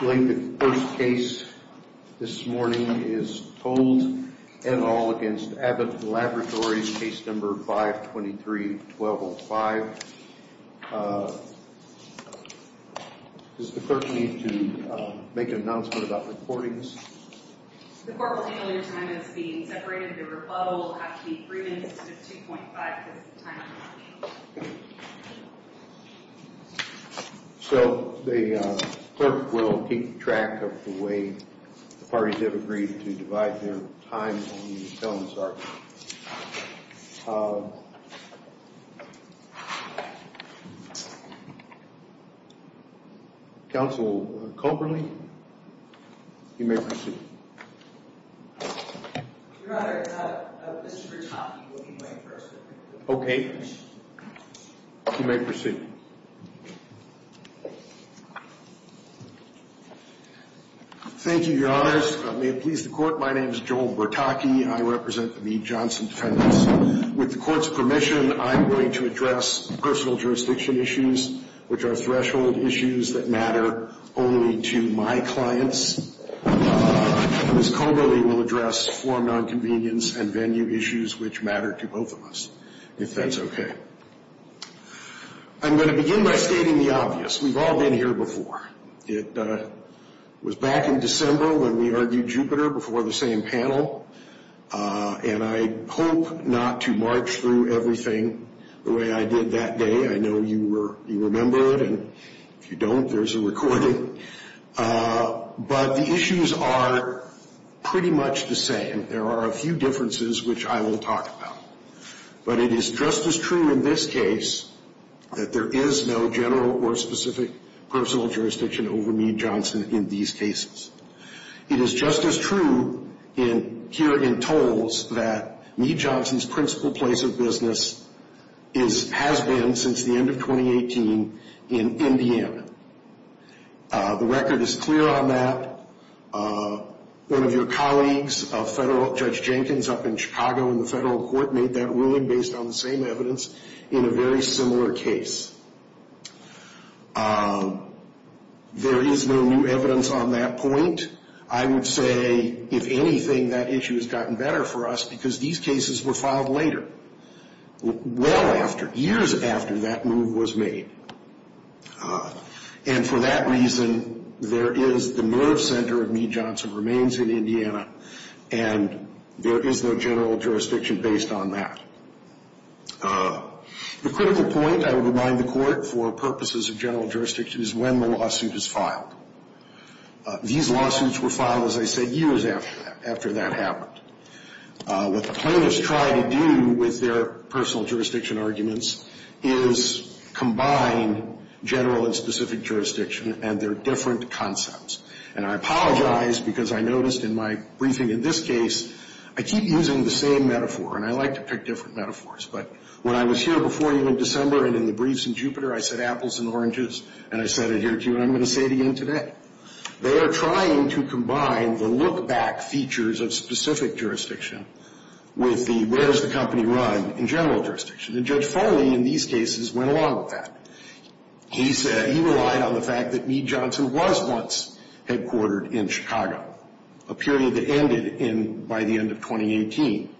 The first case this morning is Toles v. Abbott Laboratories, Case No. 523-1205. Does the clerk need to make an announcement about the courtings? The court will annul your time as being separated. The rebuttal will have to be free instead of 2.5 because the time has changed. So the clerk will keep track of the way the parties have agreed to divide their time on the felon's argument. Counsel Coberly, you may proceed. Your Honor, I thought Mr. Brachofsky wouldn't wait for us. Okay. You may proceed. Thank you, Your Honors. May it please the court, my name is Joel Bertocchi. I represent the Johnson defendants. With the court's permission, I'm going to address personal jurisdiction issues, which are threshold issues that matter only to my clients. Ms. Coberly will address form non-convenience and venue issues, which matter to both of us, if that's okay. I'm going to begin by stating the obvious. We've all been here before. It was back in December when we argued Jupiter before the same panel, and I hope not to march through everything the way I did that day. I know you remember it, and if you don't, there's a recording. But the issues are pretty much the same. There are a few differences, which I will talk about. But it is just as true in this case that there is no general or specific personal jurisdiction over Meade Johnson in these cases. It is just as true here in tolls that Meade Johnson's principal place of business has been, since the end of 2018, in Indiana. The record is clear on that. One of your colleagues, Judge Jenkins, up in Chicago in the federal court made that ruling based on the same evidence in a very similar case. There is no new evidence on that point. I would say, if anything, that issue has gotten better for us because these cases were filed later, well after, years after that move was made. And for that reason, there is the nerve center of Meade Johnson remains in Indiana, and there is no general jurisdiction based on that. The critical point I would remind the court for purposes of general jurisdiction is when the lawsuit is filed. These lawsuits were filed, as I said, years after that happened. What the plaintiffs try to do with their personal jurisdiction arguments is combine general and specific jurisdiction and their different concepts. And I apologize because I noticed in my briefing in this case, I keep using the same metaphor, and I like to pick different metaphors. But when I was here before you in December and in the briefs in Jupiter, I said apples and oranges, and I said it here to you, and I'm going to say it again today. They are trying to combine the look-back features of specific jurisdiction with the where's the company run in general jurisdiction. And Judge Foley in these cases went along with that. He said he relied on the fact that Meade Johnson was once headquartered in Chicago, a period that ended by the end of 2018.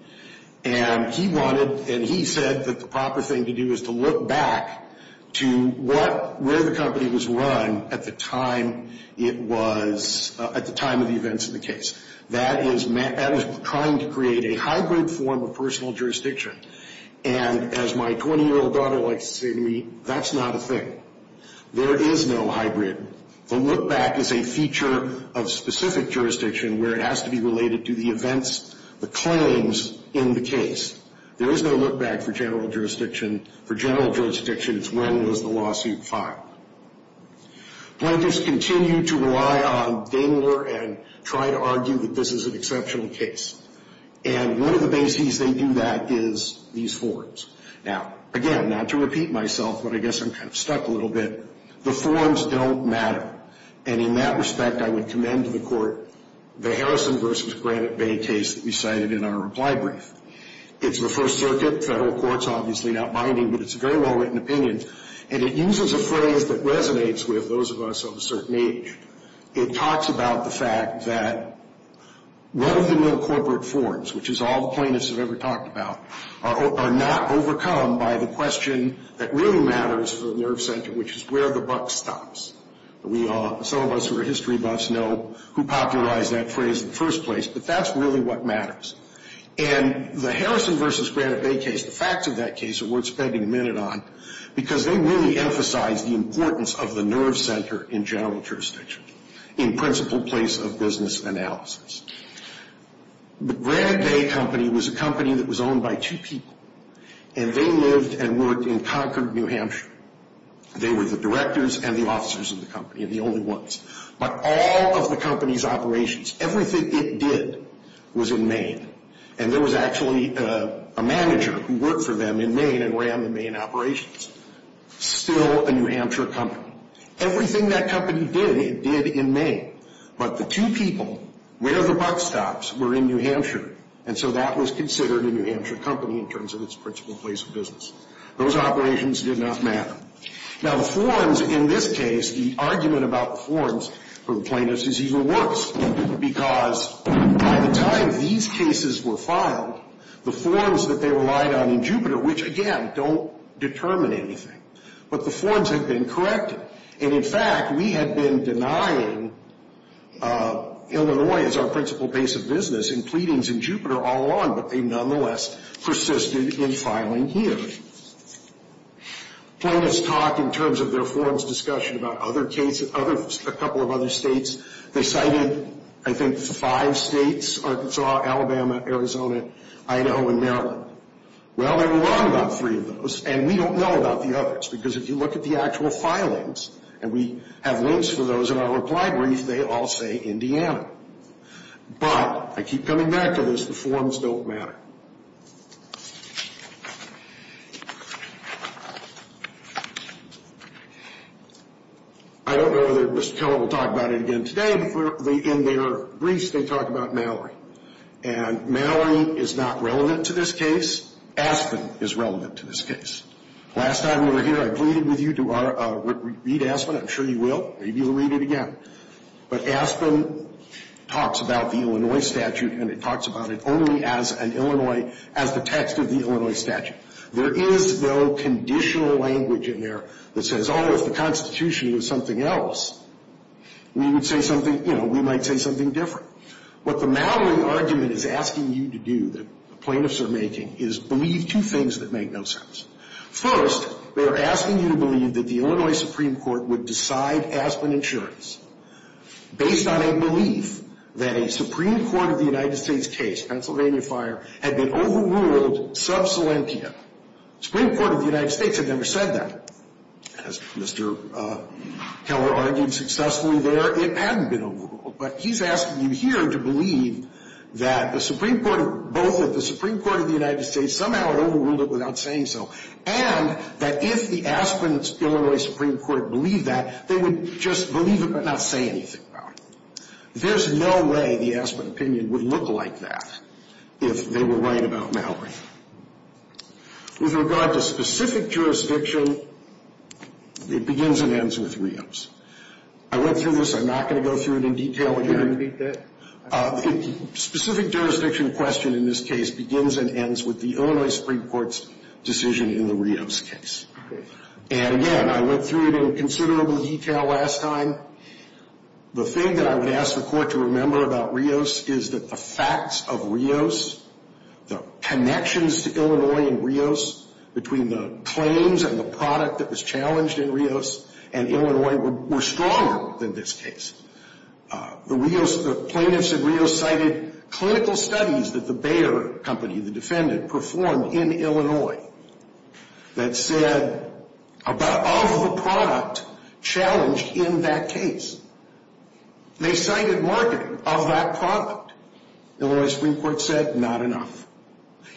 And he wanted, and he said that the proper thing to do is to look back to where the company was run at the time it was, at the time of the events in the case. That is trying to create a hybrid form of personal jurisdiction. And as my 20-year-old daughter likes to say to me, that's not a thing. There is no hybrid. The look-back is a feature of specific jurisdiction where it has to be related to the events, the claims in the case. There is no look-back for general jurisdiction. For general jurisdiction, it's when was the lawsuit filed. Plaintiffs continue to rely on Daimler and try to argue that this is an exceptional case. And one of the bases they do that is these forms. Now, again, not to repeat myself, but I guess I'm kind of stuck a little bit. The forms don't matter. And in that respect, I would commend to the Court the Harrison v. Granite Bay case that we cited in our reply brief. It's the First Circuit. Federal court's obviously not binding, but it's a very well-written opinion. And it uses a phrase that resonates with those of us of a certain age. It talks about the fact that one of the new corporate forms, which is all the plaintiffs have ever talked about, are not overcome by the question that really matters for the nerve center, which is where the buck stops. Some of us who are history buffs know who popularized that phrase in the first place, but that's really what matters. And the Harrison v. Granite Bay case, the facts of that case are worth spending a minute on, because they really emphasize the importance of the nerve center in general jurisdiction, in principle place of business analysis. The Granite Bay Company was a company that was owned by two people, and they lived and worked in Concord, New Hampshire. They were the directors and the officers of the company, and the only ones. But all of the company's operations, everything it did was in Maine. And there was actually a manager who worked for them in Maine and ran the Maine operations. Still a New Hampshire company. Everything that company did, it did in Maine. But the two people where the buck stops were in New Hampshire, and so that was considered a New Hampshire company in terms of its principle place of business. Those operations did not matter. Now, the forms in this case, the argument about the forms for the plaintiffs is even worse, because by the time these cases were filed, the forms that they relied on in Jupiter, which, again, don't determine anything, but the forms had been corrected. And, in fact, we had been denying Illinois as our principle place of business in pleadings in Jupiter all along, but they nonetheless persisted in filing here. Plaintiffs talked in terms of their forms discussion about other cases, a couple of other states. They cited, I think, five states, Arkansas, Alabama, Arizona, Idaho, and Maryland. Well, they were wrong about three of those, and we don't know about the others, because if you look at the actual filings, and we have links for those in our reply brief, they all say Indiana. But I keep coming back to this, the forms don't matter. I don't know whether Mr. Keller will talk about it again today, but in their briefs they talk about Mallory. And Mallory is not relevant to this case. Aspen is relevant to this case. Last time we were here, I pleaded with you to read Aspen. I'm sure you will. Maybe you'll read it again. But Aspen talks about the Illinois statute, and it talks about it only as an Illinois, as the text of the Illinois statute. There is no conditional language in there that says, oh, if the Constitution was something else, we would say something, you know, we might say something different. What the Mallory argument is asking you to do, that the plaintiffs are making, is believe two things that make no sense. First, they are asking you to believe that the Illinois Supreme Court would decide Aspen insurance based on a belief that a Supreme Court of the United States case, Pennsylvania fire, had been overruled sub salientia. The Supreme Court of the United States had never said that. As Mr. Keller argued successfully there, it hadn't been overruled. But he's asking you here to believe that the Supreme Court of both of the Supreme Court of the United States somehow overruled it without saying so, and that if the Aspen-Illinois Supreme Court believed that, they would just believe it but not say anything about it. There's no way the Aspen opinion would look like that if they were right about Mallory. With regard to specific jurisdiction, it begins and ends with reams. I went through this. I'm not going to go through it in detail. Would you repeat that? Specific jurisdiction question in this case begins and ends with the Illinois Supreme Court's decision in the Rios case. Okay. And, again, I went through it in considerable detail last time. The thing that I would ask the Court to remember about Rios is that the facts of Rios, the connections to Illinois and Rios between the claims and the product that was challenged in Rios and Illinois were stronger than this case. The plaintiffs in Rios cited clinical studies that the Bayer Company, the defendant, performed in Illinois that said of the product challenged in that case. They cited marketing of that product. Illinois Supreme Court said not enough.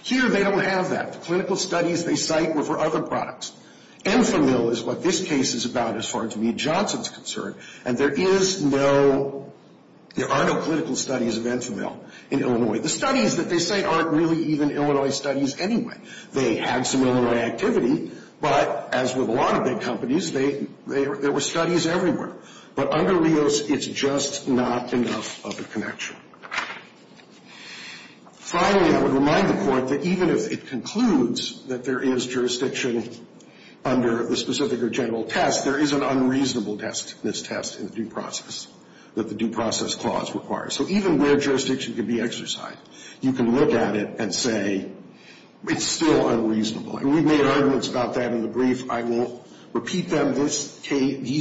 Here they don't have that. The clinical studies they cite were for other products. Enfamil is what this case is about as far as Meade-Johnson is concerned, and there is no, there are no clinical studies of Enfamil in Illinois. The studies that they cite aren't really even Illinois studies anyway. They had some Illinois activity, but as with a lot of big companies, there were studies everywhere. But under Rios, it's just not enough of a connection. Finally, I would remind the Court that even if it concludes that there is jurisdiction under the specific or general test, there is an unreasonable test in this test in the due process that the due process clause requires. So even where jurisdiction can be exercised, you can look at it and say it's still unreasonable. And we've made arguments about that in the brief. I won't repeat them. These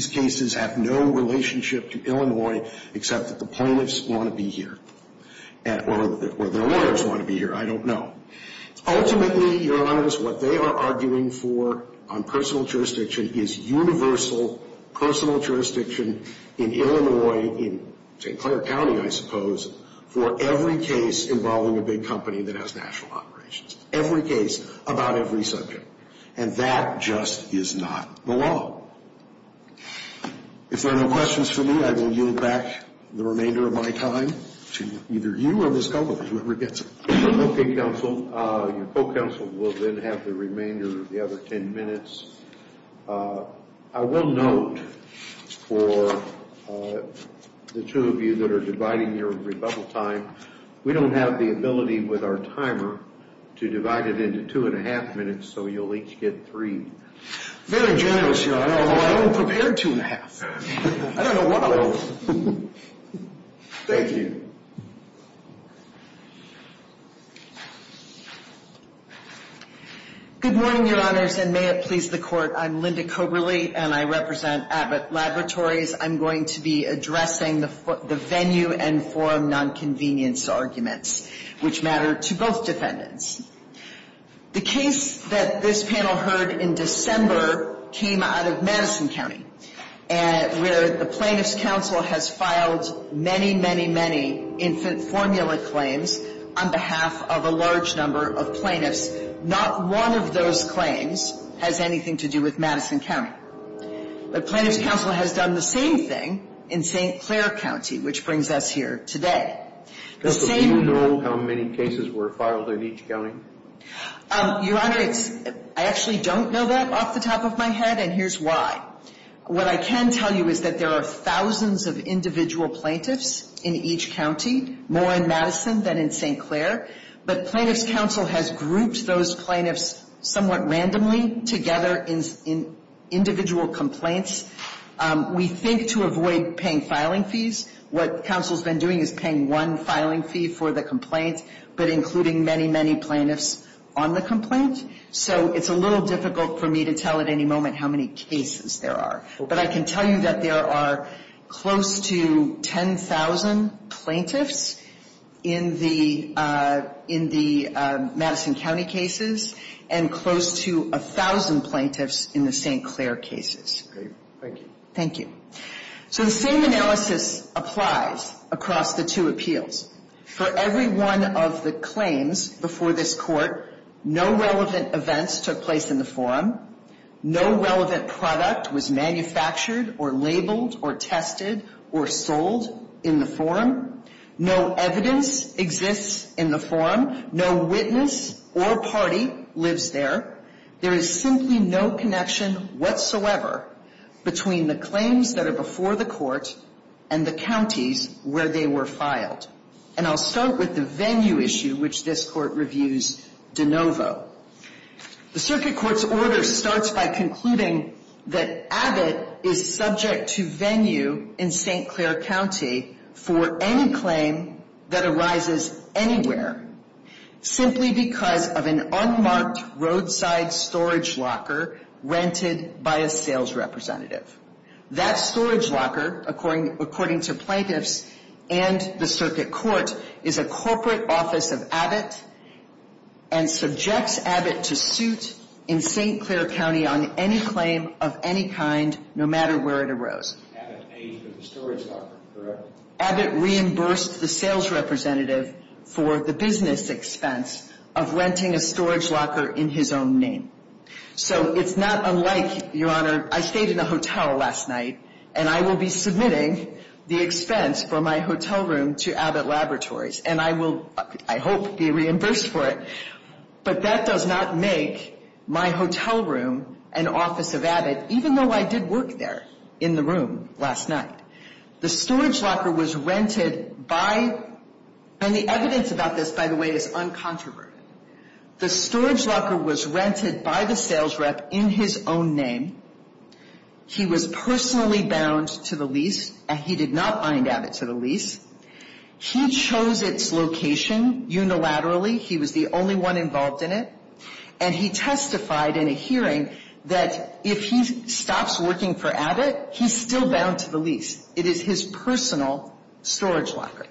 cases have no relationship to Illinois except that the plaintiffs want to be here, or their lawyers want to be here. I don't know. Ultimately, Your Honors, what they are arguing for on personal jurisdiction is universal personal jurisdiction in Illinois, in St. Clair County, I suppose, for every case involving a big company that has national operations. Every case about every subject. And that just is not the law. If there are no questions for me, I will yield back the remainder of my time to either you or Ms. Gulliver, whoever gets it. Okay, counsel. Your co-counsel will then have the remainder of the other 10 minutes. I will note for the two of you that are dividing your rebuttal time, we don't have the ability with our timer to divide it into two and a half minutes, so you'll each get three. Very generous, Your Honor, although I don't prepare two and a half. I don't know why. Thank you. Good morning, Your Honors, and may it please the Court. I'm Linda Coberly, and I represent Abbott Laboratories. I'm going to be addressing the venue and forum nonconvenience arguments which matter to both defendants. The case that this panel heard in December came out of Madison County, where the Plaintiffs' Counsel has filed many, many, many infant formula claims on behalf of a large number of plaintiffs. Not one of those claims has anything to do with Madison County. But Plaintiffs' Counsel has done the same thing in St. Clair County, which brings us here today. Do you know how many cases were filed in each county? Your Honor, I actually don't know that off the top of my head, and here's why. What I can tell you is that there are thousands of individual plaintiffs in each county, more in Madison than in St. Clair. Individual complaints, we think to avoid paying filing fees. What counsel's been doing is paying one filing fee for the complaint, but including many, many plaintiffs on the complaint. So it's a little difficult for me to tell at any moment how many cases there are. But I can tell you that there are close to 10,000 plaintiffs in the Madison County cases and close to 1,000 plaintiffs in the St. Clair cases. Thank you. So the same analysis applies across the two appeals. For every one of the claims before this Court, no relevant events took place in the forum. No relevant product was manufactured or labeled or tested or sold in the forum. No evidence exists in the forum. No witness or party lives there. There is simply no connection whatsoever between the claims that are before the Court and the counties where they were filed. And I'll start with the venue issue, which this Court reviews de novo. The Circuit Court's order starts by concluding that Abbott is subject to venue in St. Clair County for any claim that arises anywhere, simply because of an unmarked roadside storage locker rented by a sales representative. That storage locker, according to plaintiffs and the Circuit Court, is a corporate office of Abbott and subjects Abbott to suit in St. Clair County on any claim of any kind, no matter where it arose. Abbott paid for the storage locker, correct? Abbott reimbursed the sales representative for the business expense of renting a storage locker in his own name. So it's not unlike, Your Honor, I stayed in a hotel last night, and I will be submitting the expense for my hotel room to Abbott Laboratories. And I will, I hope, be reimbursed for it. But that does not make my hotel room an office of Abbott, even though I did work there in the room last night. The storage locker was rented by, and the evidence about this, by the way, is uncontroverted. The storage locker was rented by the sales rep in his own name. He was personally bound to the lease, and he did not bind Abbott to the lease. He chose its location unilaterally. He was the only one involved in it. And he testified in a hearing that if he stops working for Abbott, he's still bound to the lease. It is his personal storage locker.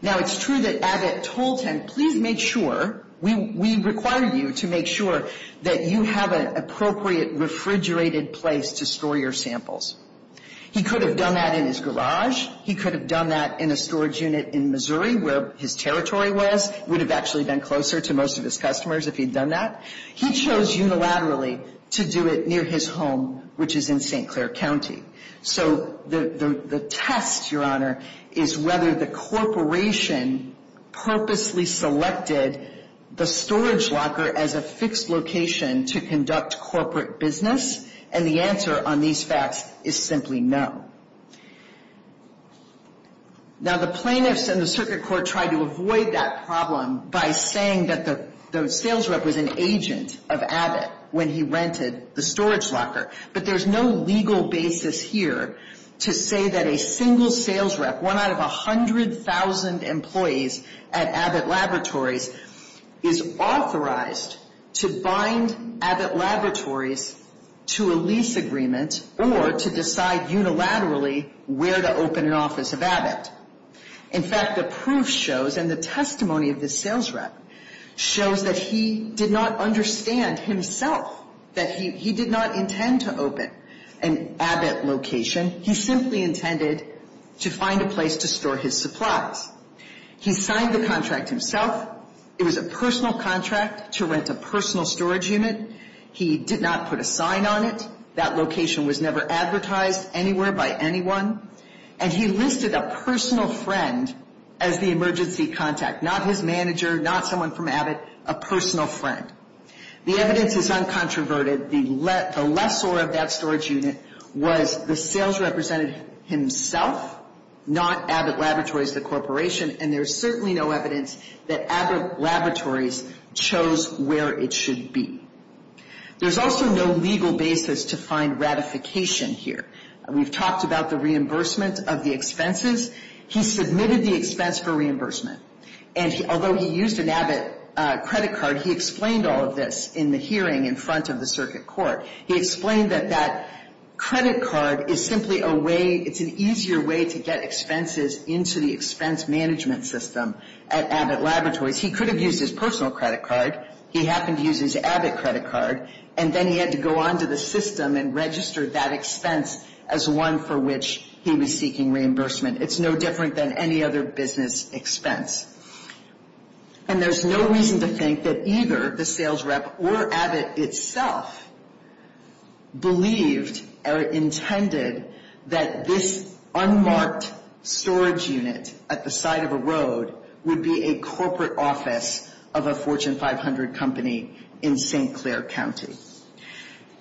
Now, it's true that Abbott told him, please make sure, we require you to make sure that you have an appropriate refrigerated place to store your samples. He could have done that in his garage. He could have done that in a storage unit in Missouri where his territory was. It would have actually been closer to most of his customers if he'd done that. He chose unilaterally to do it near his home, which is in St. Clair County. So the test, Your Honor, is whether the corporation purposely selected the storage locker as a fixed location to conduct corporate business. And the answer on these facts is simply no. Now, the plaintiffs and the circuit court tried to avoid that problem by saying that the sales rep was an agent of Abbott when he rented the storage locker. But there's no legal basis here to say that a single sales rep, one out of 100,000 employees at Abbott Laboratories, is authorized to bind Abbott Laboratories to a lease agreement or to decide unilaterally where to open an office of Abbott. In fact, the proof shows and the testimony of this sales rep shows that he did not understand himself that he did not intend to open an Abbott location. He simply intended to find a place to store his supplies. He signed the contract himself. It was a personal contract to rent a personal storage unit. He did not put a sign on it. That location was never advertised anywhere by anyone. And he listed a personal friend as the emergency contact, not his manager, not someone from Abbott, a personal friend. The evidence is uncontroverted. The lessor of that storage unit was the sales representative himself, not Abbott Laboratories, the corporation. And there's certainly no evidence that Abbott Laboratories chose where it should be. There's also no legal basis to find ratification here. We've talked about the reimbursement of the expenses. He submitted the expense for reimbursement. And although he used an Abbott credit card, he explained all of this in the hearing in front of the circuit court. He explained that that credit card is simply a way, it's an easier way to get expenses into the expense management system at Abbott Laboratories. He could have used his personal credit card. He happened to use his Abbott credit card. And then he had to go on to the system and register that expense as one for which he was seeking reimbursement. It's no different than any other business expense. And there's no reason to think that either the sales rep or Abbott itself believed or intended that this unmarked storage unit at the side of a road would be a corporate office of a Fortune 500 company in St. Clair County.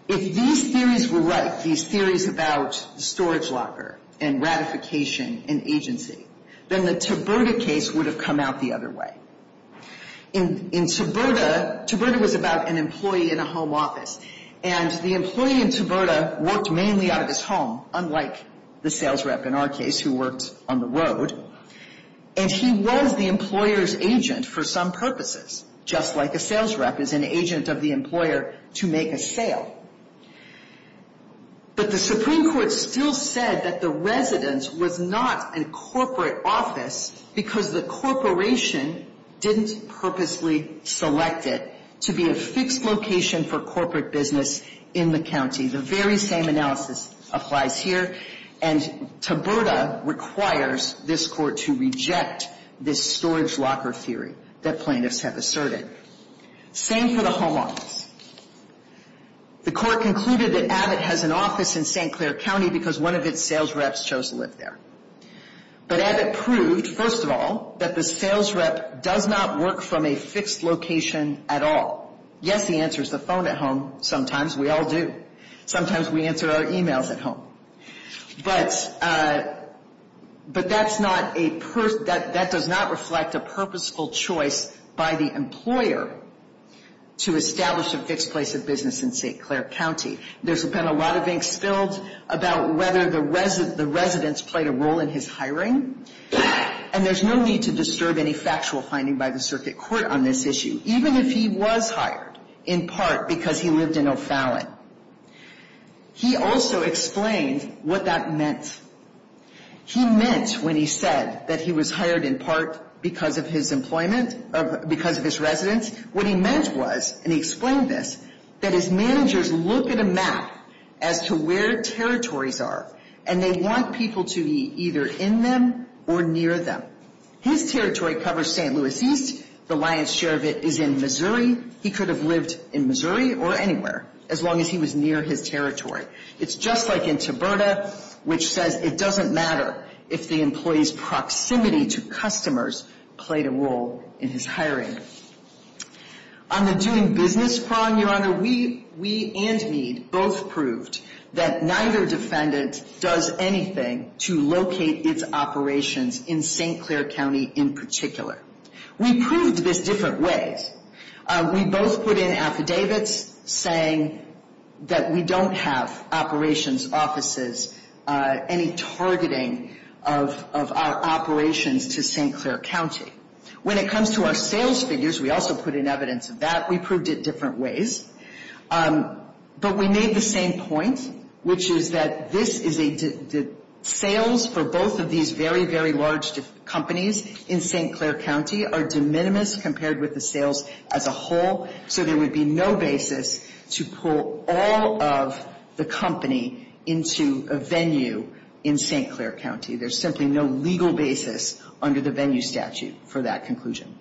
If these theories were right, these theories about the storage locker and ratification and agency, then the Taberta case would have come out the other way. In Taberta, Taberta was about an employee in a home office. And the employee in Taberta worked mainly out of his home, unlike the sales rep in our case who worked on the road. And he was the employer's agent for some purposes, just like a sales rep is an agent of the employer to make a sale. But the Supreme Court still said that the residence was not a corporate office because the corporation didn't purposely select it to be a fixed location for corporate business in the county. The very same analysis applies here. And Taberta requires this Court to reject this storage locker theory that plaintiffs have asserted. Same for the home office. The Court concluded that Abbott has an office in St. Clair County because one of its sales reps chose to live there. But Abbott proved, first of all, that the sales rep does not work from a fixed location at all. Yes, he answers the phone at home. Sometimes we all do. Sometimes we answer our e-mails at home. But that's not a person, that does not reflect a purposeful choice by the employer to establish a fixed place of business in St. Clair County. There's been a lot of ink spilled about whether the residence played a role in his hiring. And there's no need to disturb any factual finding by the circuit court on this issue. Even if he was hired in part because he lived in O'Fallon. He also explained what that meant. He meant when he said that he was hired in part because of his employment, because of his residence, what he meant was, and he explained this, that his managers look at a map as to where territories are. And they want people to be either in them or near them. His territory covers St. Louis East. The lion's share of it is in Missouri. He could have lived in Missouri or anywhere as long as he was near his territory. It's just like in Taberta, which says it doesn't matter if the employee's proximity to customers played a role in his hiring. On the doing business prong, Your Honor, we and Meade both proved that neither defendant does anything to locate its operations in St. Clair County in particular. We proved this different ways. We both put in affidavits saying that we don't have operations offices, any targeting of our operations to St. Clair County. When it comes to our sales figures, we also put in evidence of that. We proved it different ways. But we made the same point, which is that sales for both of these very, very large companies in St. Clair County are de minimis compared with the sales as a whole. So there would be no basis to pull all of the company into a venue in St. Clair County. There's simply no legal basis under the venue statute for that conclusion.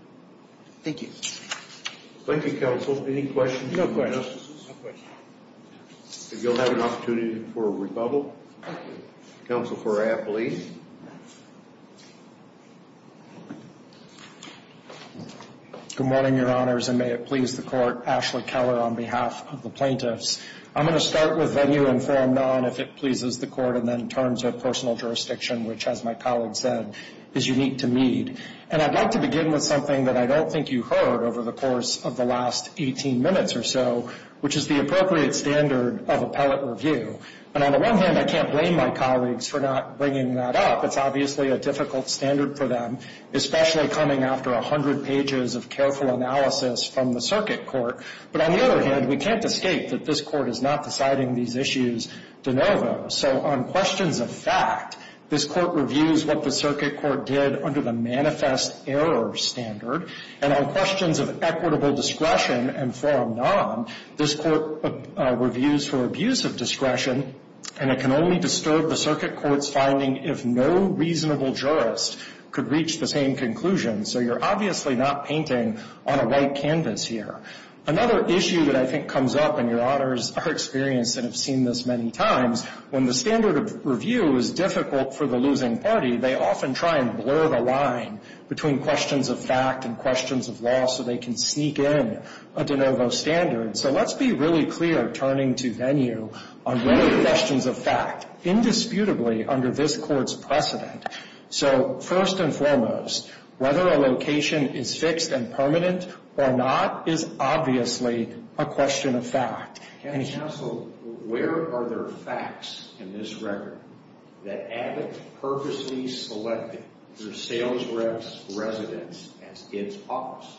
Thank you. Thank you, Counsel. Any questions? No questions. If you'll have an opportunity for rebuttal. Counsel for Appley. Good morning, Your Honors, and may it please the Court. Ashley Keller on behalf of the plaintiffs. I'm going to start with venue informed on if it pleases the Court, and then in terms of personal jurisdiction, which, as my colleague said, is unique to Meade. And I'd like to begin with something that I don't think you heard over the course of the last 18 minutes or so, which is the appropriate standard of appellate review. And on the one hand, I can't blame my colleagues for not bringing that up. It's obviously a difficult standard for them, especially coming after 100 pages of careful analysis from the circuit court. But on the other hand, we can't escape that this Court is not deciding these issues de novo. So on questions of fact, this Court reviews what the circuit court did under the manifest error standard. And on questions of equitable discretion and forum non, this Court reviews for abuse of discretion, and it can only disturb the circuit court's finding if no reasonable jurist could reach the same conclusion. So you're obviously not painting on a white canvas here. Another issue that I think comes up, and your honors are experienced and have seen this many times, when the standard of review is difficult for the losing party, they often try and blur the line between questions of fact and questions of law so they can sneak in a de novo standard. So let's be really clear turning to venue on whether the questions of fact, indisputably under this Court's precedent. So first and foremost, whether a location is fixed and permanent or not is obviously a question of fact. Counsel, where are there facts in this record that Abbott purposely selected the sales rep's residence as its office?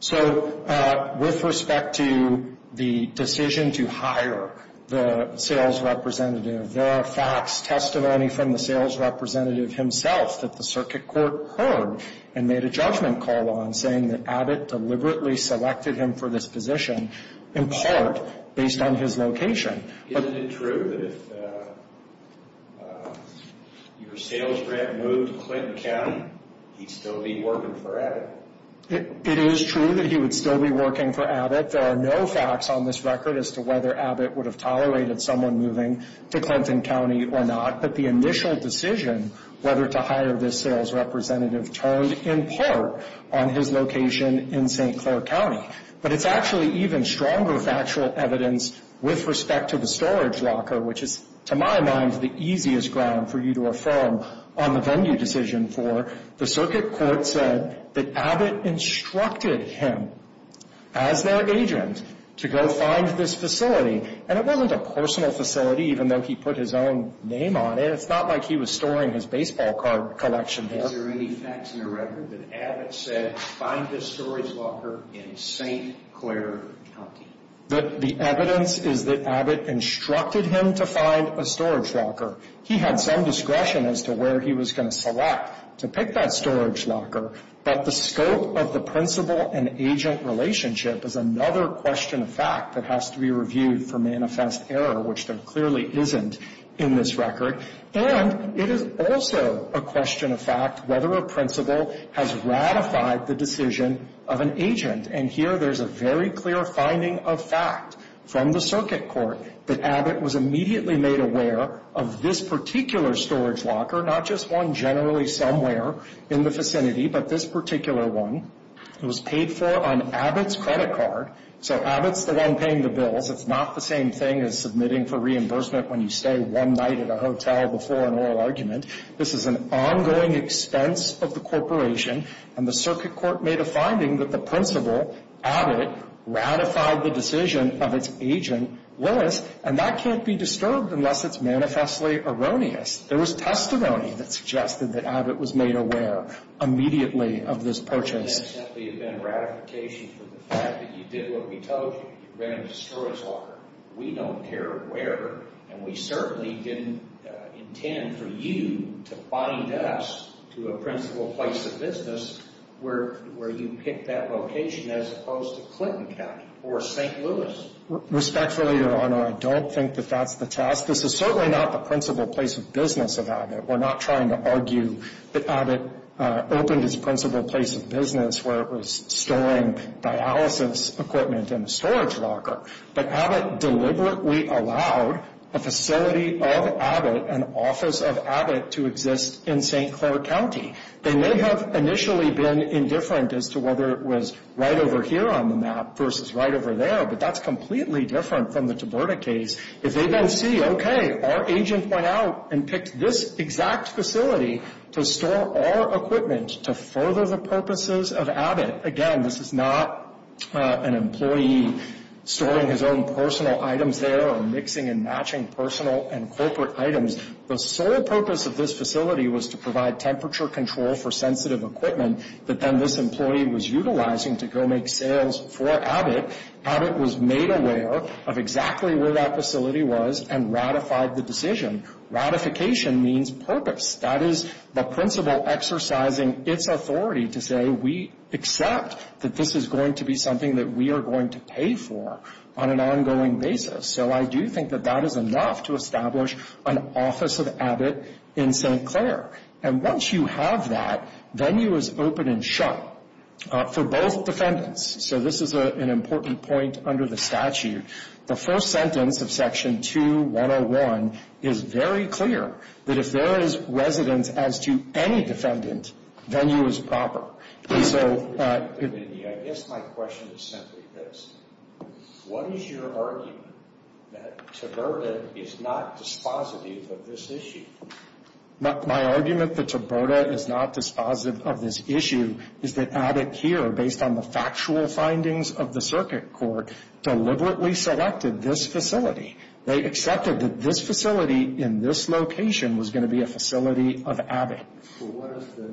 So with respect to the decision to hire the sales representative, there are facts, testimony from the sales representative himself that the circuit court heard and made a judgment call on saying that Abbott deliberately selected him for this position in part based on his location. Isn't it true that if your sales rep moved to Clinton County, he'd still be working for Abbott? It is true that he would still be working for Abbott. But there are no facts on this record as to whether Abbott would have tolerated someone moving to Clinton County or not. But the initial decision whether to hire this sales representative turned in part on his location in St. Clair County. But it's actually even stronger factual evidence with respect to the storage locker, which is, to my mind, the easiest ground for you to affirm on the venue decision for. The circuit court said that Abbott instructed him as their agent to go find this facility. And it wasn't a personal facility, even though he put his own name on it. It's not like he was storing his baseball card collection there. Is there any facts in the record that Abbott said find this storage locker in St. Clair County? The evidence is that Abbott instructed him to find a storage locker. He had some discretion as to where he was going to select to pick that storage locker. But the scope of the principal and agent relationship is another question of fact that has to be reviewed for manifest error, which there clearly isn't in this record. And it is also a question of fact whether a principal has ratified the decision of an agent. And here there's a very clear finding of fact from the circuit court that Abbott was immediately made aware of this particular storage locker, not just one generally somewhere in the vicinity, but this particular one. It was paid for on Abbott's credit card. So Abbott's the one paying the bills. It's not the same thing as submitting for reimbursement when you stay one night at a hotel before an oral argument. This is an ongoing expense of the corporation. And the circuit court made a finding that the principal, Abbott, ratified the decision of its agent, Willis. And that can't be disturbed unless it's manifestly erroneous. There was testimony that suggested that Abbott was made aware immediately of this purchase. And that simply had been a ratification for the fact that you did what we told you. You ran a storage locker. We don't care where. And we certainly didn't intend for you to find us to a principal place of business where you picked that location as opposed to Clinton County or St. Louis. Respectfully, Your Honor, I don't think that that's the task. This is certainly not the principal place of business of Abbott. We're not trying to argue that Abbott opened his principal place of business where it was storing dialysis equipment in a storage locker. But Abbott deliberately allowed a facility of Abbott, an office of Abbott, to exist in St. Clair County. They may have initially been indifferent as to whether it was right over here on the map versus right over there, but that's completely different from the Tiburta case. If they then see, okay, our agent went out and picked this exact facility to store our equipment to further the purposes of Abbott. Again, this is not an employee storing his own personal items there or mixing and matching personal and corporate items. The sole purpose of this facility was to provide temperature control for sensitive equipment that then this employee was utilizing to go make sales for Abbott. Abbott was made aware of exactly where that facility was and ratified the decision. Ratification means purpose. That is the principal exercising its authority to say we accept that this is going to be something that we are going to pay for on an ongoing basis. So I do think that that is enough to establish an office of Abbott in St. Clair. And once you have that, venue is open and shut for both defendants. So this is an important point under the statute. The first sentence of Section 2-101 is very clear, that if there is residence as to any defendant, venue is proper. And so... I guess my question is simply this. What is your argument that Tiburta is not dispositive of this issue? My argument that Tiburta is not dispositive of this issue is that Abbott here, based on the factual findings of the circuit court, deliberately selected this facility. They accepted that this facility in this location was going to be a facility of Abbott. But what if the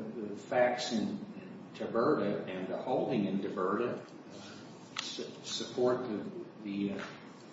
facts in Tiburta and the holding in Tiburta support the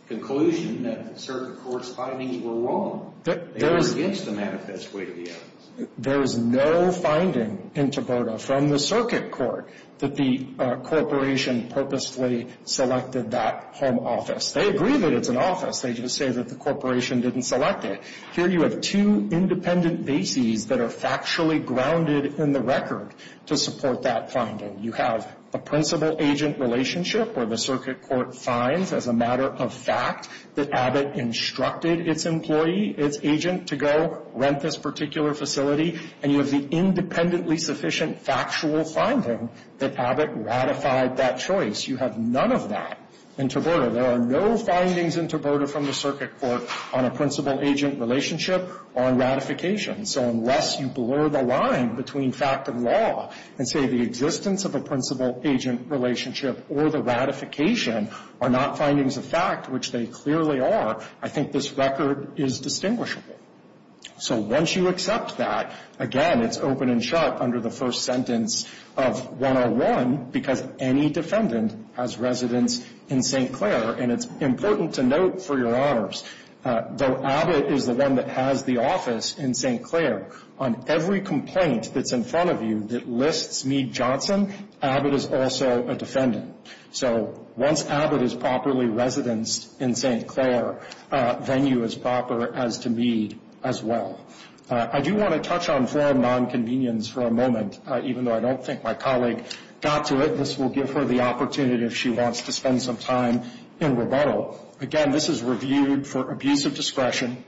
conclusion that the circuit court's findings were wrong? They were against the manifest way to the office. There is no finding in Tiburta from the circuit court that the corporation purposefully selected that home office. They agree that it's an office. They just say that the corporation didn't select it. Here you have two independent bases that are factually grounded in the record to support that finding. You have a principal-agent relationship where the circuit court finds as a matter of fact that Abbott instructed its employee, its agent, to go rent this particular facility. And you have the independently sufficient factual finding that Abbott ratified that choice. You have none of that in Tiburta. There are no findings in Tiburta from the circuit court on a principal-agent relationship or on ratification. So unless you blur the line between fact and law and say the existence of a principal-agent relationship or the ratification are not findings of fact, which they clearly are, I think this record is distinguishable. So once you accept that, again, it's open and sharp under the first sentence of 101 because any defendant has residence in St. Clair. And it's important to note, for your honors, though Abbott is the one that has the office in St. Clair, on every complaint that's in front of you that lists Meade-Johnson, Abbott is also a defendant. So once Abbott is properly residenced in St. Clair, venue is proper as to Meade as well. I do want to touch on foreign nonconvenience for a moment. Even though I don't think my colleague got to it, this will give her the opportunity if she wants to spend some time in rebuttal. Again, this is reviewed for abuse of discretion.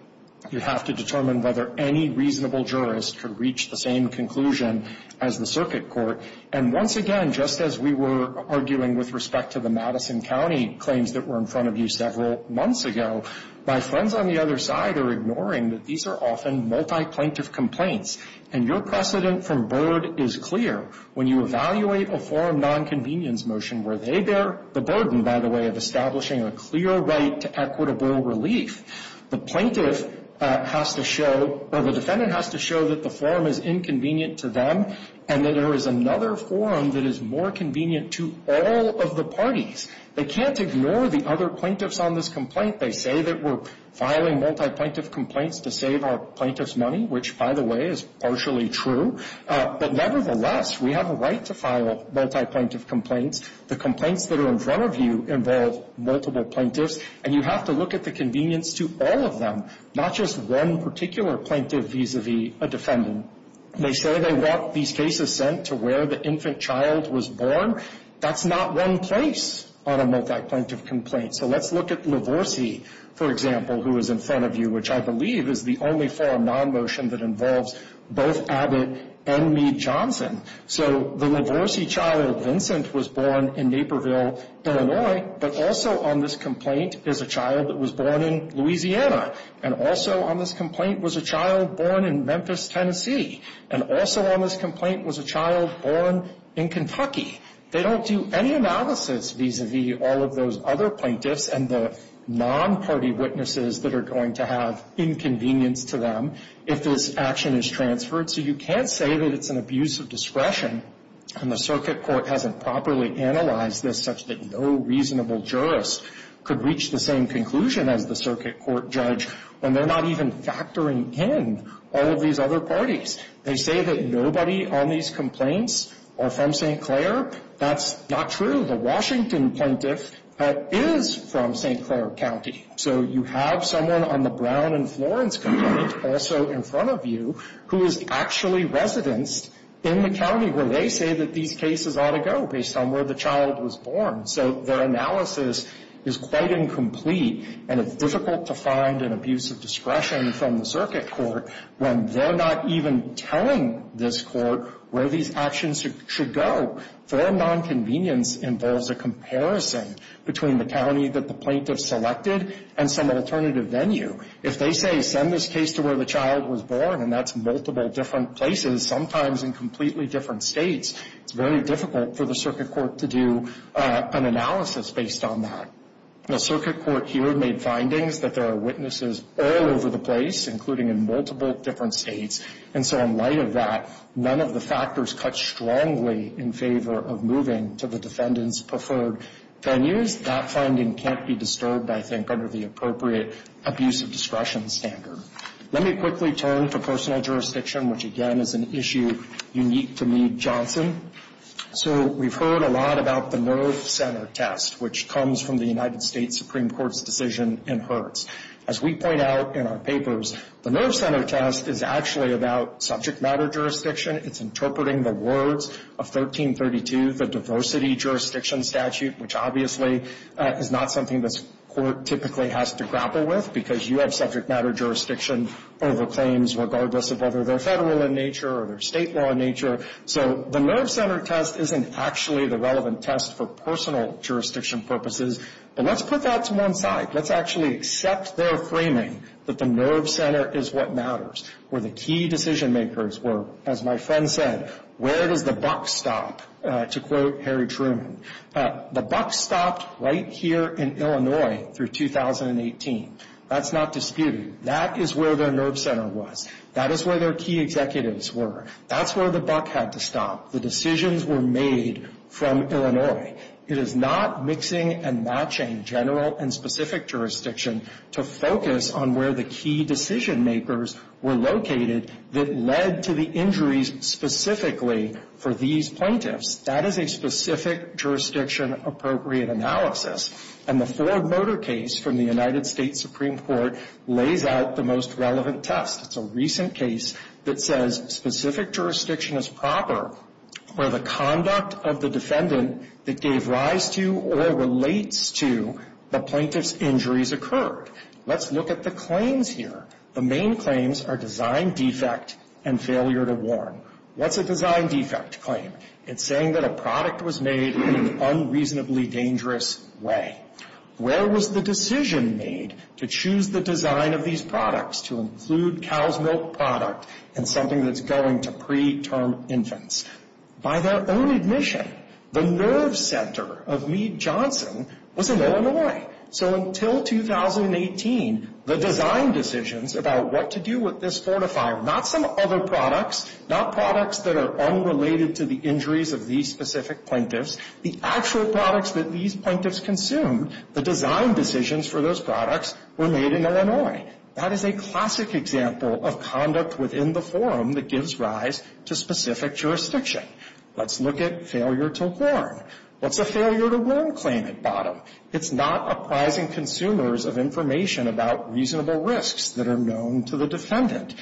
You have to determine whether any reasonable jurist could reach the same conclusion as the circuit court. And once again, just as we were arguing with respect to the Madison County claims that were in front of you several months ago, my friends on the other side are ignoring that these are often multi-plaintiff complaints. And your precedent from Byrd is clear. When you evaluate a foreign nonconvenience motion where they bear the burden, by the way, of establishing a clear right to equitable relief, the plaintiff has to show or the defendant has to show that the form is inconvenient to them and that there is another form that is more convenient to all of the parties. They can't ignore the other plaintiffs on this complaint. They say that we're filing multi-plaintiff complaints to save our plaintiffs money, which, by the way, is partially true. But nevertheless, we have a right to file multi-plaintiff complaints. The complaints that are in front of you involve multiple plaintiffs, and you have to look at the convenience to all of them, not just one particular plaintiff vis-a-vis a defendant. They say they want these cases sent to where the infant child was born. That's not one place on a multi-plaintiff complaint. So let's look at Lavorsi, for example, who is in front of you, which I believe is the only foreign non-motion that involves both Abbott and Meade-Johnson. So the Lavorsi child, Vincent, was born in Naperville, Illinois. But also on this complaint is a child that was born in Louisiana. And also on this complaint was a child born in Memphis, Tennessee. And also on this complaint was a child born in Kentucky. They don't do any analysis vis-a-vis all of those other plaintiffs and the non-party witnesses that are going to have inconvenience to them if this action is transferred. So you can't say that it's an abuse of discretion, and the circuit court hasn't properly analyzed this such that no reasonable jurist could reach the same conclusion as the circuit court judge when they're not even factoring in all of these other parties. They say that nobody on these complaints are from St. Clair. That's not true. The Washington plaintiff is from St. Clair County. So you have someone on the Brown and Florence complaint, also in front of you, who is actually residenced in the county where they say that these cases ought to go based on where the child was born. So their analysis is quite incomplete, and it's difficult to find an abuse of discretion from the circuit court when they're not even telling this court where these actions should go. Fair nonconvenience involves a comparison between the county that the plaintiff selected and some alternative venue. If they say send this case to where the child was born, and that's multiple different places, sometimes in completely different states, it's very difficult for the circuit court to do an analysis based on that. The circuit court here made findings that there are witnesses all over the place, including in multiple different states, and so in light of that, none of the factors cut strongly in favor of moving to the defendant's preferred venues. That finding can't be disturbed, I think, under the appropriate abuse of discretion standard. Let me quickly turn to personal jurisdiction, which, again, is an issue unique to Meade-Johnson. So we've heard a lot about the nerve center test, which comes from the United States Supreme Court's decision in Hertz. As we point out in our papers, the nerve center test is actually about subject matter jurisdiction. It's interpreting the words of 1332, the diversity jurisdiction statute, which obviously is not something this court typically has to grapple with, because you have subject matter jurisdiction over claims regardless of whether they're federal in nature or they're state law in nature. So the nerve center test isn't actually the relevant test for personal jurisdiction purposes. But let's put that to one side. Let's actually accept their framing that the nerve center is what matters, where the key decision makers were, as my friend said, where does the buck stop, to quote Harry Truman. The buck stopped right here in Illinois through 2018. That's not disputed. That is where their nerve center was. That is where their key executives were. That's where the buck had to stop. The decisions were made from Illinois. It is not mixing and matching general and specific jurisdiction to focus on where the key decision makers were located that led to the injuries specifically for these plaintiffs. That is a specific jurisdiction appropriate analysis. And the Ford Motor case from the United States Supreme Court lays out the most relevant test. It's a recent case that says specific jurisdiction is proper where the conduct of the defendant that gave rise to or relates to the plaintiff's injuries occurred. Let's look at the claims here. The main claims are design defect and failure to warn. What's a design defect claim? It's saying that a product was made in an unreasonably dangerous way. Where was the decision made to choose the design of these products to include cow's milk product in something that's going to preterm infants? By their own admission, the nerve center of Meade Johnson was in Illinois. So until 2018, the design decisions about what to do with this fortifier, not some other products, not products that are unrelated to the injuries of these specific plaintiffs, the actual products that these plaintiffs consumed, the design decisions for those products were made in Illinois. That is a classic example of conduct within the forum that gives rise to specific jurisdiction. Let's look at failure to warn. What's a failure to warn claim at bottom? It's not apprising consumers of information about reasonable risks that are known to the defendant.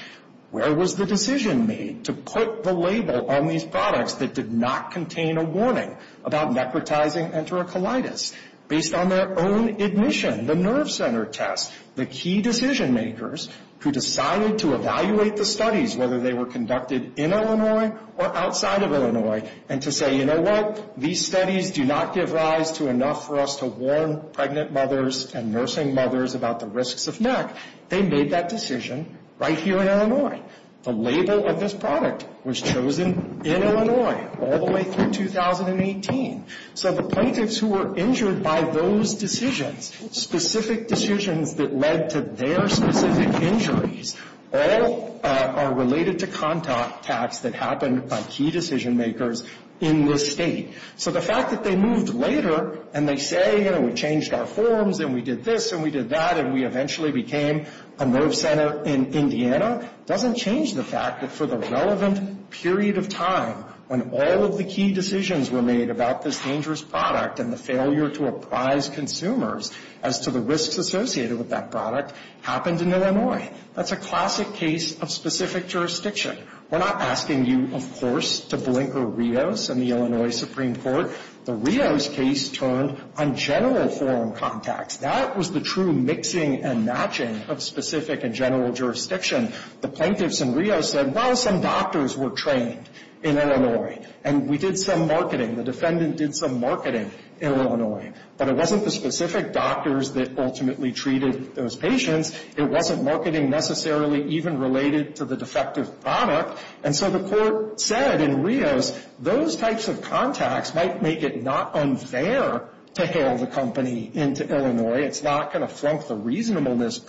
Where was the decision made to put the label on these products that did not contain a warning about necrotizing enterocolitis? Based on their own admission, the nerve center test, the key decision makers who decided to evaluate the studies, whether they were conducted in Illinois or outside of Illinois, and to say, you know what, these studies do not give rise to enough for us to warn pregnant mothers and nursing mothers about the risks of NEC, they made that decision right here in Illinois. The label of this product was chosen in Illinois all the way through 2018. So the plaintiffs who were injured by those decisions, specific decisions that led to their specific injuries, all are related to contact tests that happened by key decision makers in this state. So the fact that they moved later and they say, you know, we changed our forms and we did this and we did that and we eventually became a nerve center in Indiana doesn't change the fact that for the relevant period of time when all of the key decisions were made about this dangerous product and the failure to apprise consumers as to the risks associated with that product happened in Illinois. That's a classic case of specific jurisdiction. We're not asking you, of course, to blinker Rios and the Illinois Supreme Court. The Rios case turned on general form contacts. That was the true mixing and matching of specific and general jurisdiction. The plaintiffs in Rios said, well, some doctors were trained in Illinois and we did some marketing. The defendant did some marketing in Illinois, but it wasn't the specific doctors that ultimately treated those patients. It wasn't marketing necessarily even related to the defective product. And so the court said in Rios those types of contacts might make it not unfair to hail the company into Illinois. It's not going to flunk the reasonableness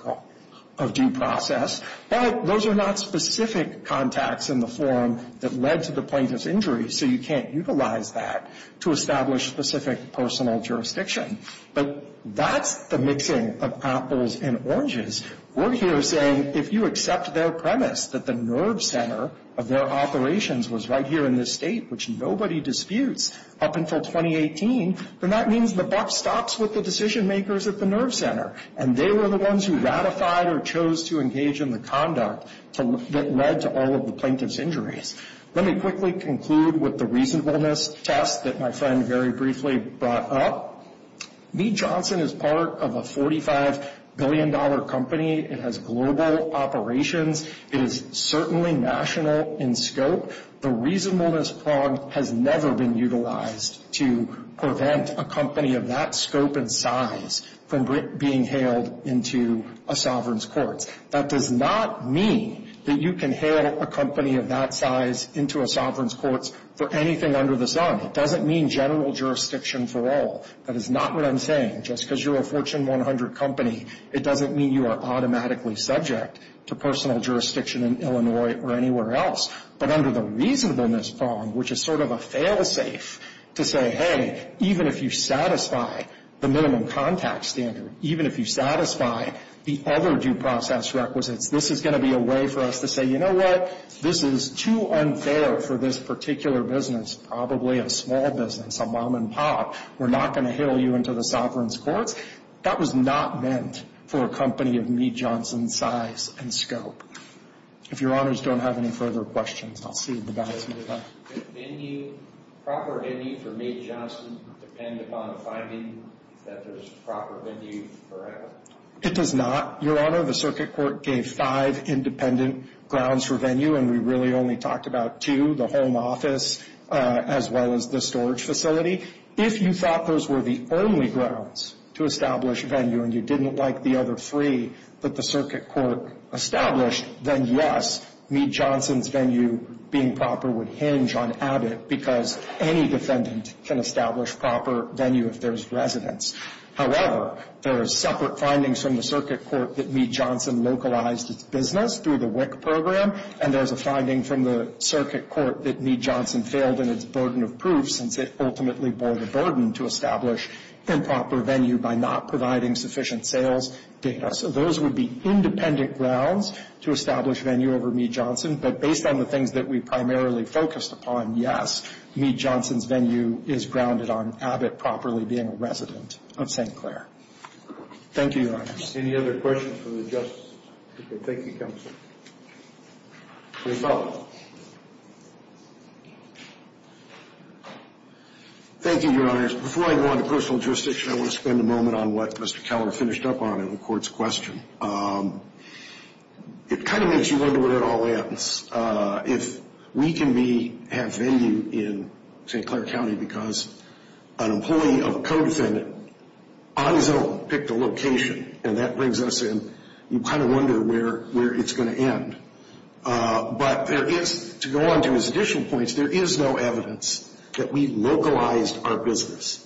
of due process. But those are not specific contacts in the form that led to the plaintiff's injury, so you can't utilize that to establish specific personal jurisdiction. But that's the mixing of apples and oranges. We're here saying if you accept their premise that the nerve center of their operations was right here in this state, which nobody disputes up until 2018, then that means the buck stops with the decision makers at the nerve center, and they were the ones who ratified or chose to engage in the conduct that led to all of the plaintiff's injuries. Let me quickly conclude with the reasonableness test that my friend very briefly brought up. Meade Johnson is part of a $45 billion company. It has global operations. It is certainly national in scope. The reasonableness prong has never been utilized to prevent a company of that scope and size from being hailed into a sovereign's courts. That does not mean that you can hail a company of that size into a sovereign's courts for anything under the sun. It doesn't mean general jurisdiction for all. That is not what I'm saying. Just because you're a Fortune 100 company, it doesn't mean you are automatically subject to personal jurisdiction in Illinois or anywhere else. But under the reasonableness prong, which is sort of a fail-safe to say, hey, even if you satisfy the minimum contact standard, even if you satisfy the other due process requisites, this is going to be a way for us to say, you know what, this is too unfair for this particular business, probably a small business, a mom and pop. We're not going to hail you into the sovereign's courts. That was not meant for a company of Meade Johnson's size and scope. If Your Honors don't have any further questions, I'll see you at the back. Does venue, proper venue for Meade Johnson depend upon finding that there's proper venue for us? It does not. Your Honor, the circuit court gave five independent grounds for venue, and we really only talked about two, the home office as well as the storage facility. If you thought those were the only grounds to establish venue and you didn't like the other three that the circuit court established, then, yes, Meade Johnson's venue being proper would hinge on Abbott because any defendant can establish proper venue if there's residence. However, there are separate findings from the circuit court that Meade Johnson localized its business through the WIC program, and there's a finding from the circuit court that Meade Johnson failed in its burden of proof since it ultimately bore the burden to establish improper venue by not providing sufficient sales data. So those would be independent grounds to establish venue over Meade Johnson, but based on the things that we primarily focused upon, yes, Meade Johnson's venue is grounded on Abbott properly being a resident of St. Clair. Thank you, Your Honors. Any other questions for the Justice? Okay. Thank you, Counsel. Please follow up. Thank you, Your Honors. Before I go on to personal jurisdiction, I want to spend a moment on what Mr. Keller finished up on in the court's question. It kind of makes you wonder where it all ends. If we can have venue in St. Clair County because an employee of a co-defendant obviously picked a location, and that brings us in, you kind of wonder where it's going to end. But there is, to go on to his additional points, there is no evidence that we localized our business.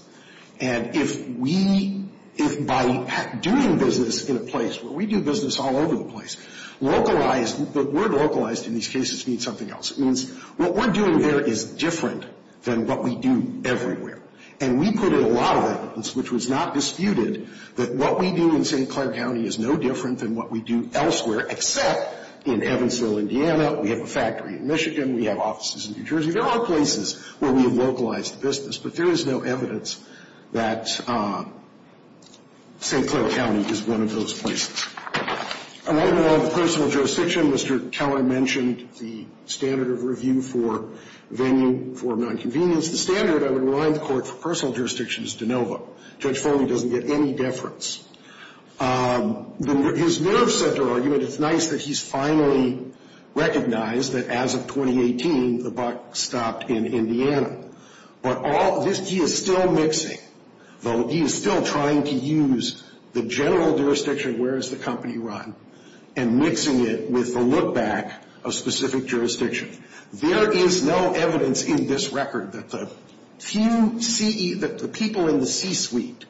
And if we, if by doing business in a place where we do business all over the place, localized, the word localized in these cases means something else. It means what we're doing there is different than what we do everywhere. And we put in a lot of evidence, which was not disputed, that what we do in St. Clair County is no different than what we do elsewhere, except in Evansville, Indiana. We have a factory in Michigan. We have offices in New Jersey. There are places where we have localized the business. But there is no evidence that St. Clair County is one of those places. Along with personal jurisdiction, Mr. Keller mentioned the standard of review for venue for nonconvenience. The standard, I would remind the Court, for personal jurisdiction is de novo. Judge Foley doesn't get any deference. His nerve center argument, it's nice that he's finally recognized that as of 2018, the buck stopped in Indiana. But all, he is still mixing. He is still trying to use the general jurisdiction, where does the company run, and mixing it with the look back of specific jurisdiction. There is no evidence in this record that the people in the C-suite,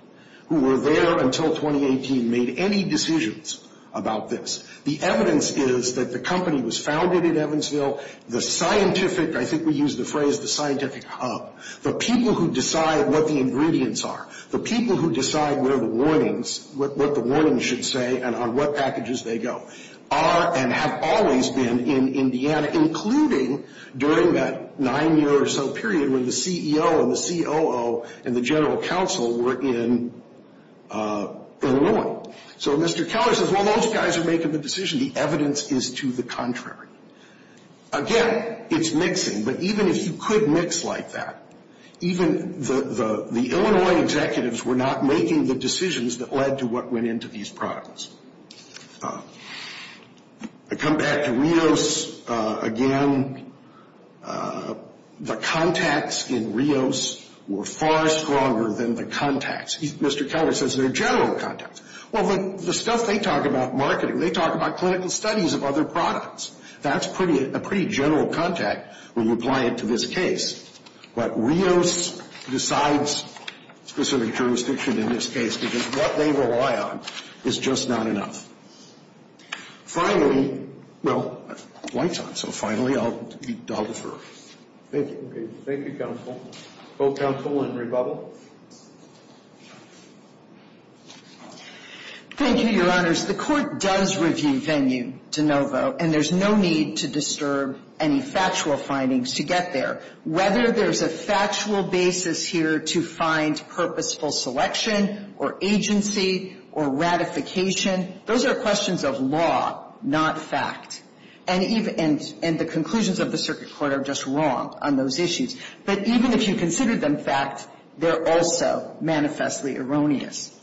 who were there until 2018, made any decisions about this. The evidence is that the company was founded in Evansville. The scientific, I think we use the phrase, the scientific hub. The people who decide what the ingredients are. The people who decide where the warnings, what the warnings should say, and on what packages they go. Are and have always been in Indiana, including during that nine year or so period, when the CEO and the COO and the general counsel were in Illinois. So Mr. Keller says, well, those guys are making the decision. The evidence is to the contrary. Again, it's mixing, but even if you could mix like that, even the Illinois executives were not making the decisions that led to what went into these products. I come back to Rios again. The contacts in Rios were far stronger than the contacts. Mr. Keller says they're general contacts. Well, the stuff they talk about marketing, they talk about clinical studies of other products. That's a pretty general contact when you apply it to this case. But Rios decides specific jurisdiction in this case because what they rely on is just not enough. Finally, well, White's on, so finally I'll defer. Thank you. Thank you, counsel. Both counsel and Rebubble. Thank you, Your Honors. The Court does review venue de novo, and there's no need to disturb any factual findings to get there, whether there's a factual basis here to find purposeful selection or agency or ratification. Those are questions of law, not fact. And the conclusions of the circuit court are just wrong on those issues. But even if you consider them fact, they're also manifestly erroneous.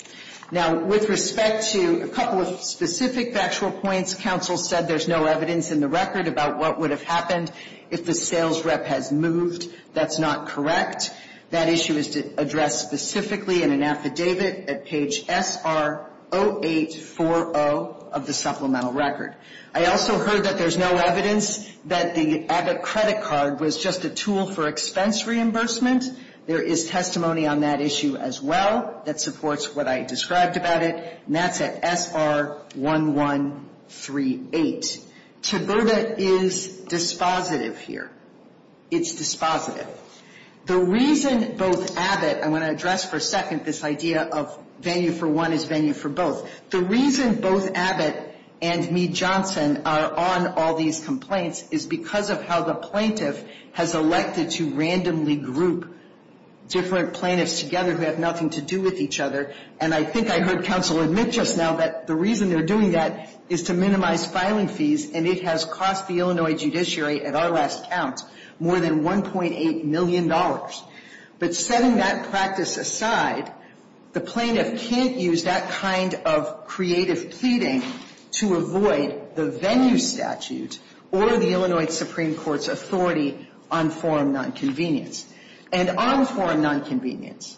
Now, with respect to a couple of specific factual points, counsel said there's no evidence in the record about what would have happened if the sales rep has moved. That's not correct. That issue is addressed specifically in an affidavit at page SR 0840 of the supplemental record. I also heard that there's no evidence that the credit card was just a tool for expense reimbursement. There is testimony on that issue as well that supports what I described about it, and that's at SR 1138. TABIRDA is dispositive here. It's dispositive. The reason both Abbott – I want to address for a second this idea of venue for one is venue for both. The reason both Abbott and Meade-Johnson are on all these complaints is because of how the plaintiff has elected to randomly group different plaintiffs together who have nothing to do with each other. And I think I heard counsel admit just now that the reason they're doing that is to minimize filing fees, and it has cost the Illinois judiciary, at our last count, more than $1.8 million. But setting that practice aside, the plaintiff can't use that kind of creative pleading to avoid the venue statute or the Illinois Supreme Court's authority on forum nonconvenience. And on forum nonconvenience,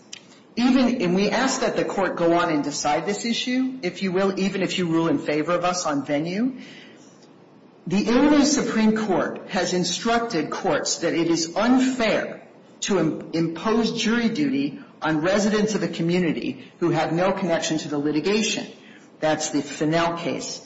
even – and we ask that the court go on and decide this issue, if you will, even if you rule in favor of us on venue. The Illinois Supreme Court has instructed courts that it is unfair to impose jury duty on residents of a community who have no connection to the litigation. That's the Fennell case.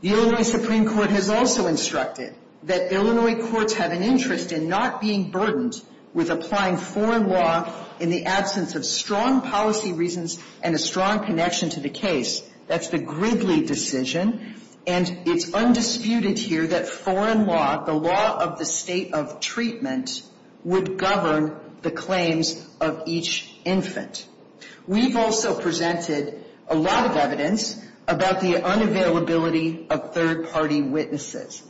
The Illinois Supreme Court has also instructed that Illinois courts have an interest in not being burdened with applying foreign law in the absence of strong policy reasons and a strong connection to the case. That's the Gridley decision. And it's undisputed here that foreign law, the law of the state of treatment, would govern the claims of each infant. We've also presented a lot of evidence about the unavailability of third-party witnesses.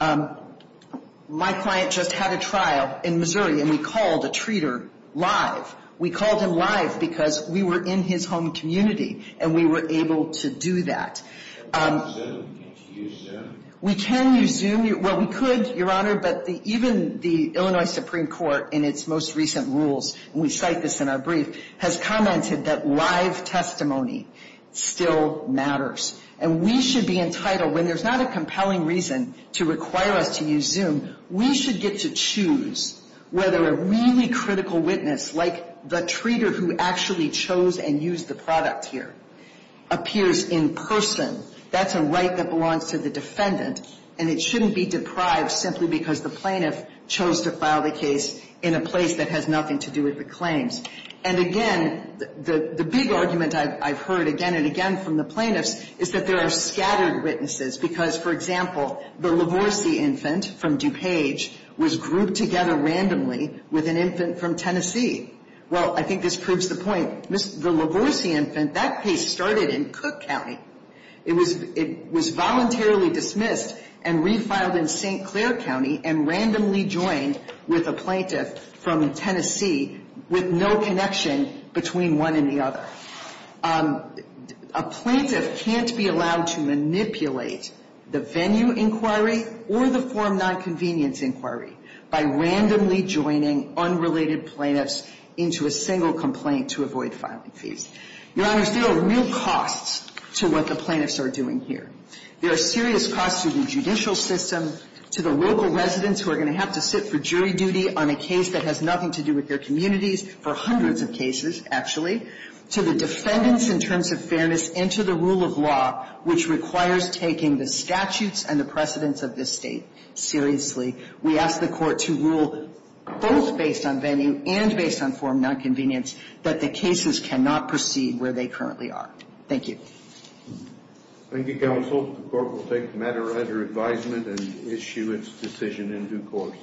My client just had a trial in Missouri, and we called a treater live. We called him live because we were in his home community, and we were able to do that. Can't you use Zoom? We can use Zoom. Well, we could, Your Honor, but even the Illinois Supreme Court, in its most recent rules – and we cite this in our brief – has commented that live testimony still matters. And we should be entitled, when there's not a compelling reason to require us to use Zoom, we should get to choose whether a really critical witness, like the treater who actually chose and used the product here, appears in person. That's a right that belongs to the defendant, and it shouldn't be deprived simply because the plaintiff chose to file the case in a place that has nothing to do with the claims. And again, the big argument I've heard again and again from the plaintiffs is that there are scattered witnesses because, for example, the Lavorsi infant from DuPage was grouped together randomly with an infant from Tennessee. Well, I think this proves the point. The Lavorsi infant, that case started in Cook County. It was voluntarily dismissed and refiled in St. Clair County and randomly joined with a plaintiff from Tennessee with no connection between one and the other. A plaintiff can't be allowed to manipulate the venue inquiry or the form nonconvenience inquiry by randomly joining unrelated plaintiffs into a single complaint to avoid filing fees. Your Honors, there are real costs to what the plaintiffs are doing here. There are serious costs to the judicial system, to the local residents who are going to have to sit for jury duty on a case that has nothing to do with their communities for hundreds of cases, actually, to the defendants in terms of fairness and to the rule of law, which requires taking the statutes and the precedents of this State seriously. We ask the Court to rule both based on venue and based on form nonconvenience that the cases cannot proceed where they currently are. Thank you. Thank you, Counsel. The Court will take the matter under advisement and issue its decision in due course.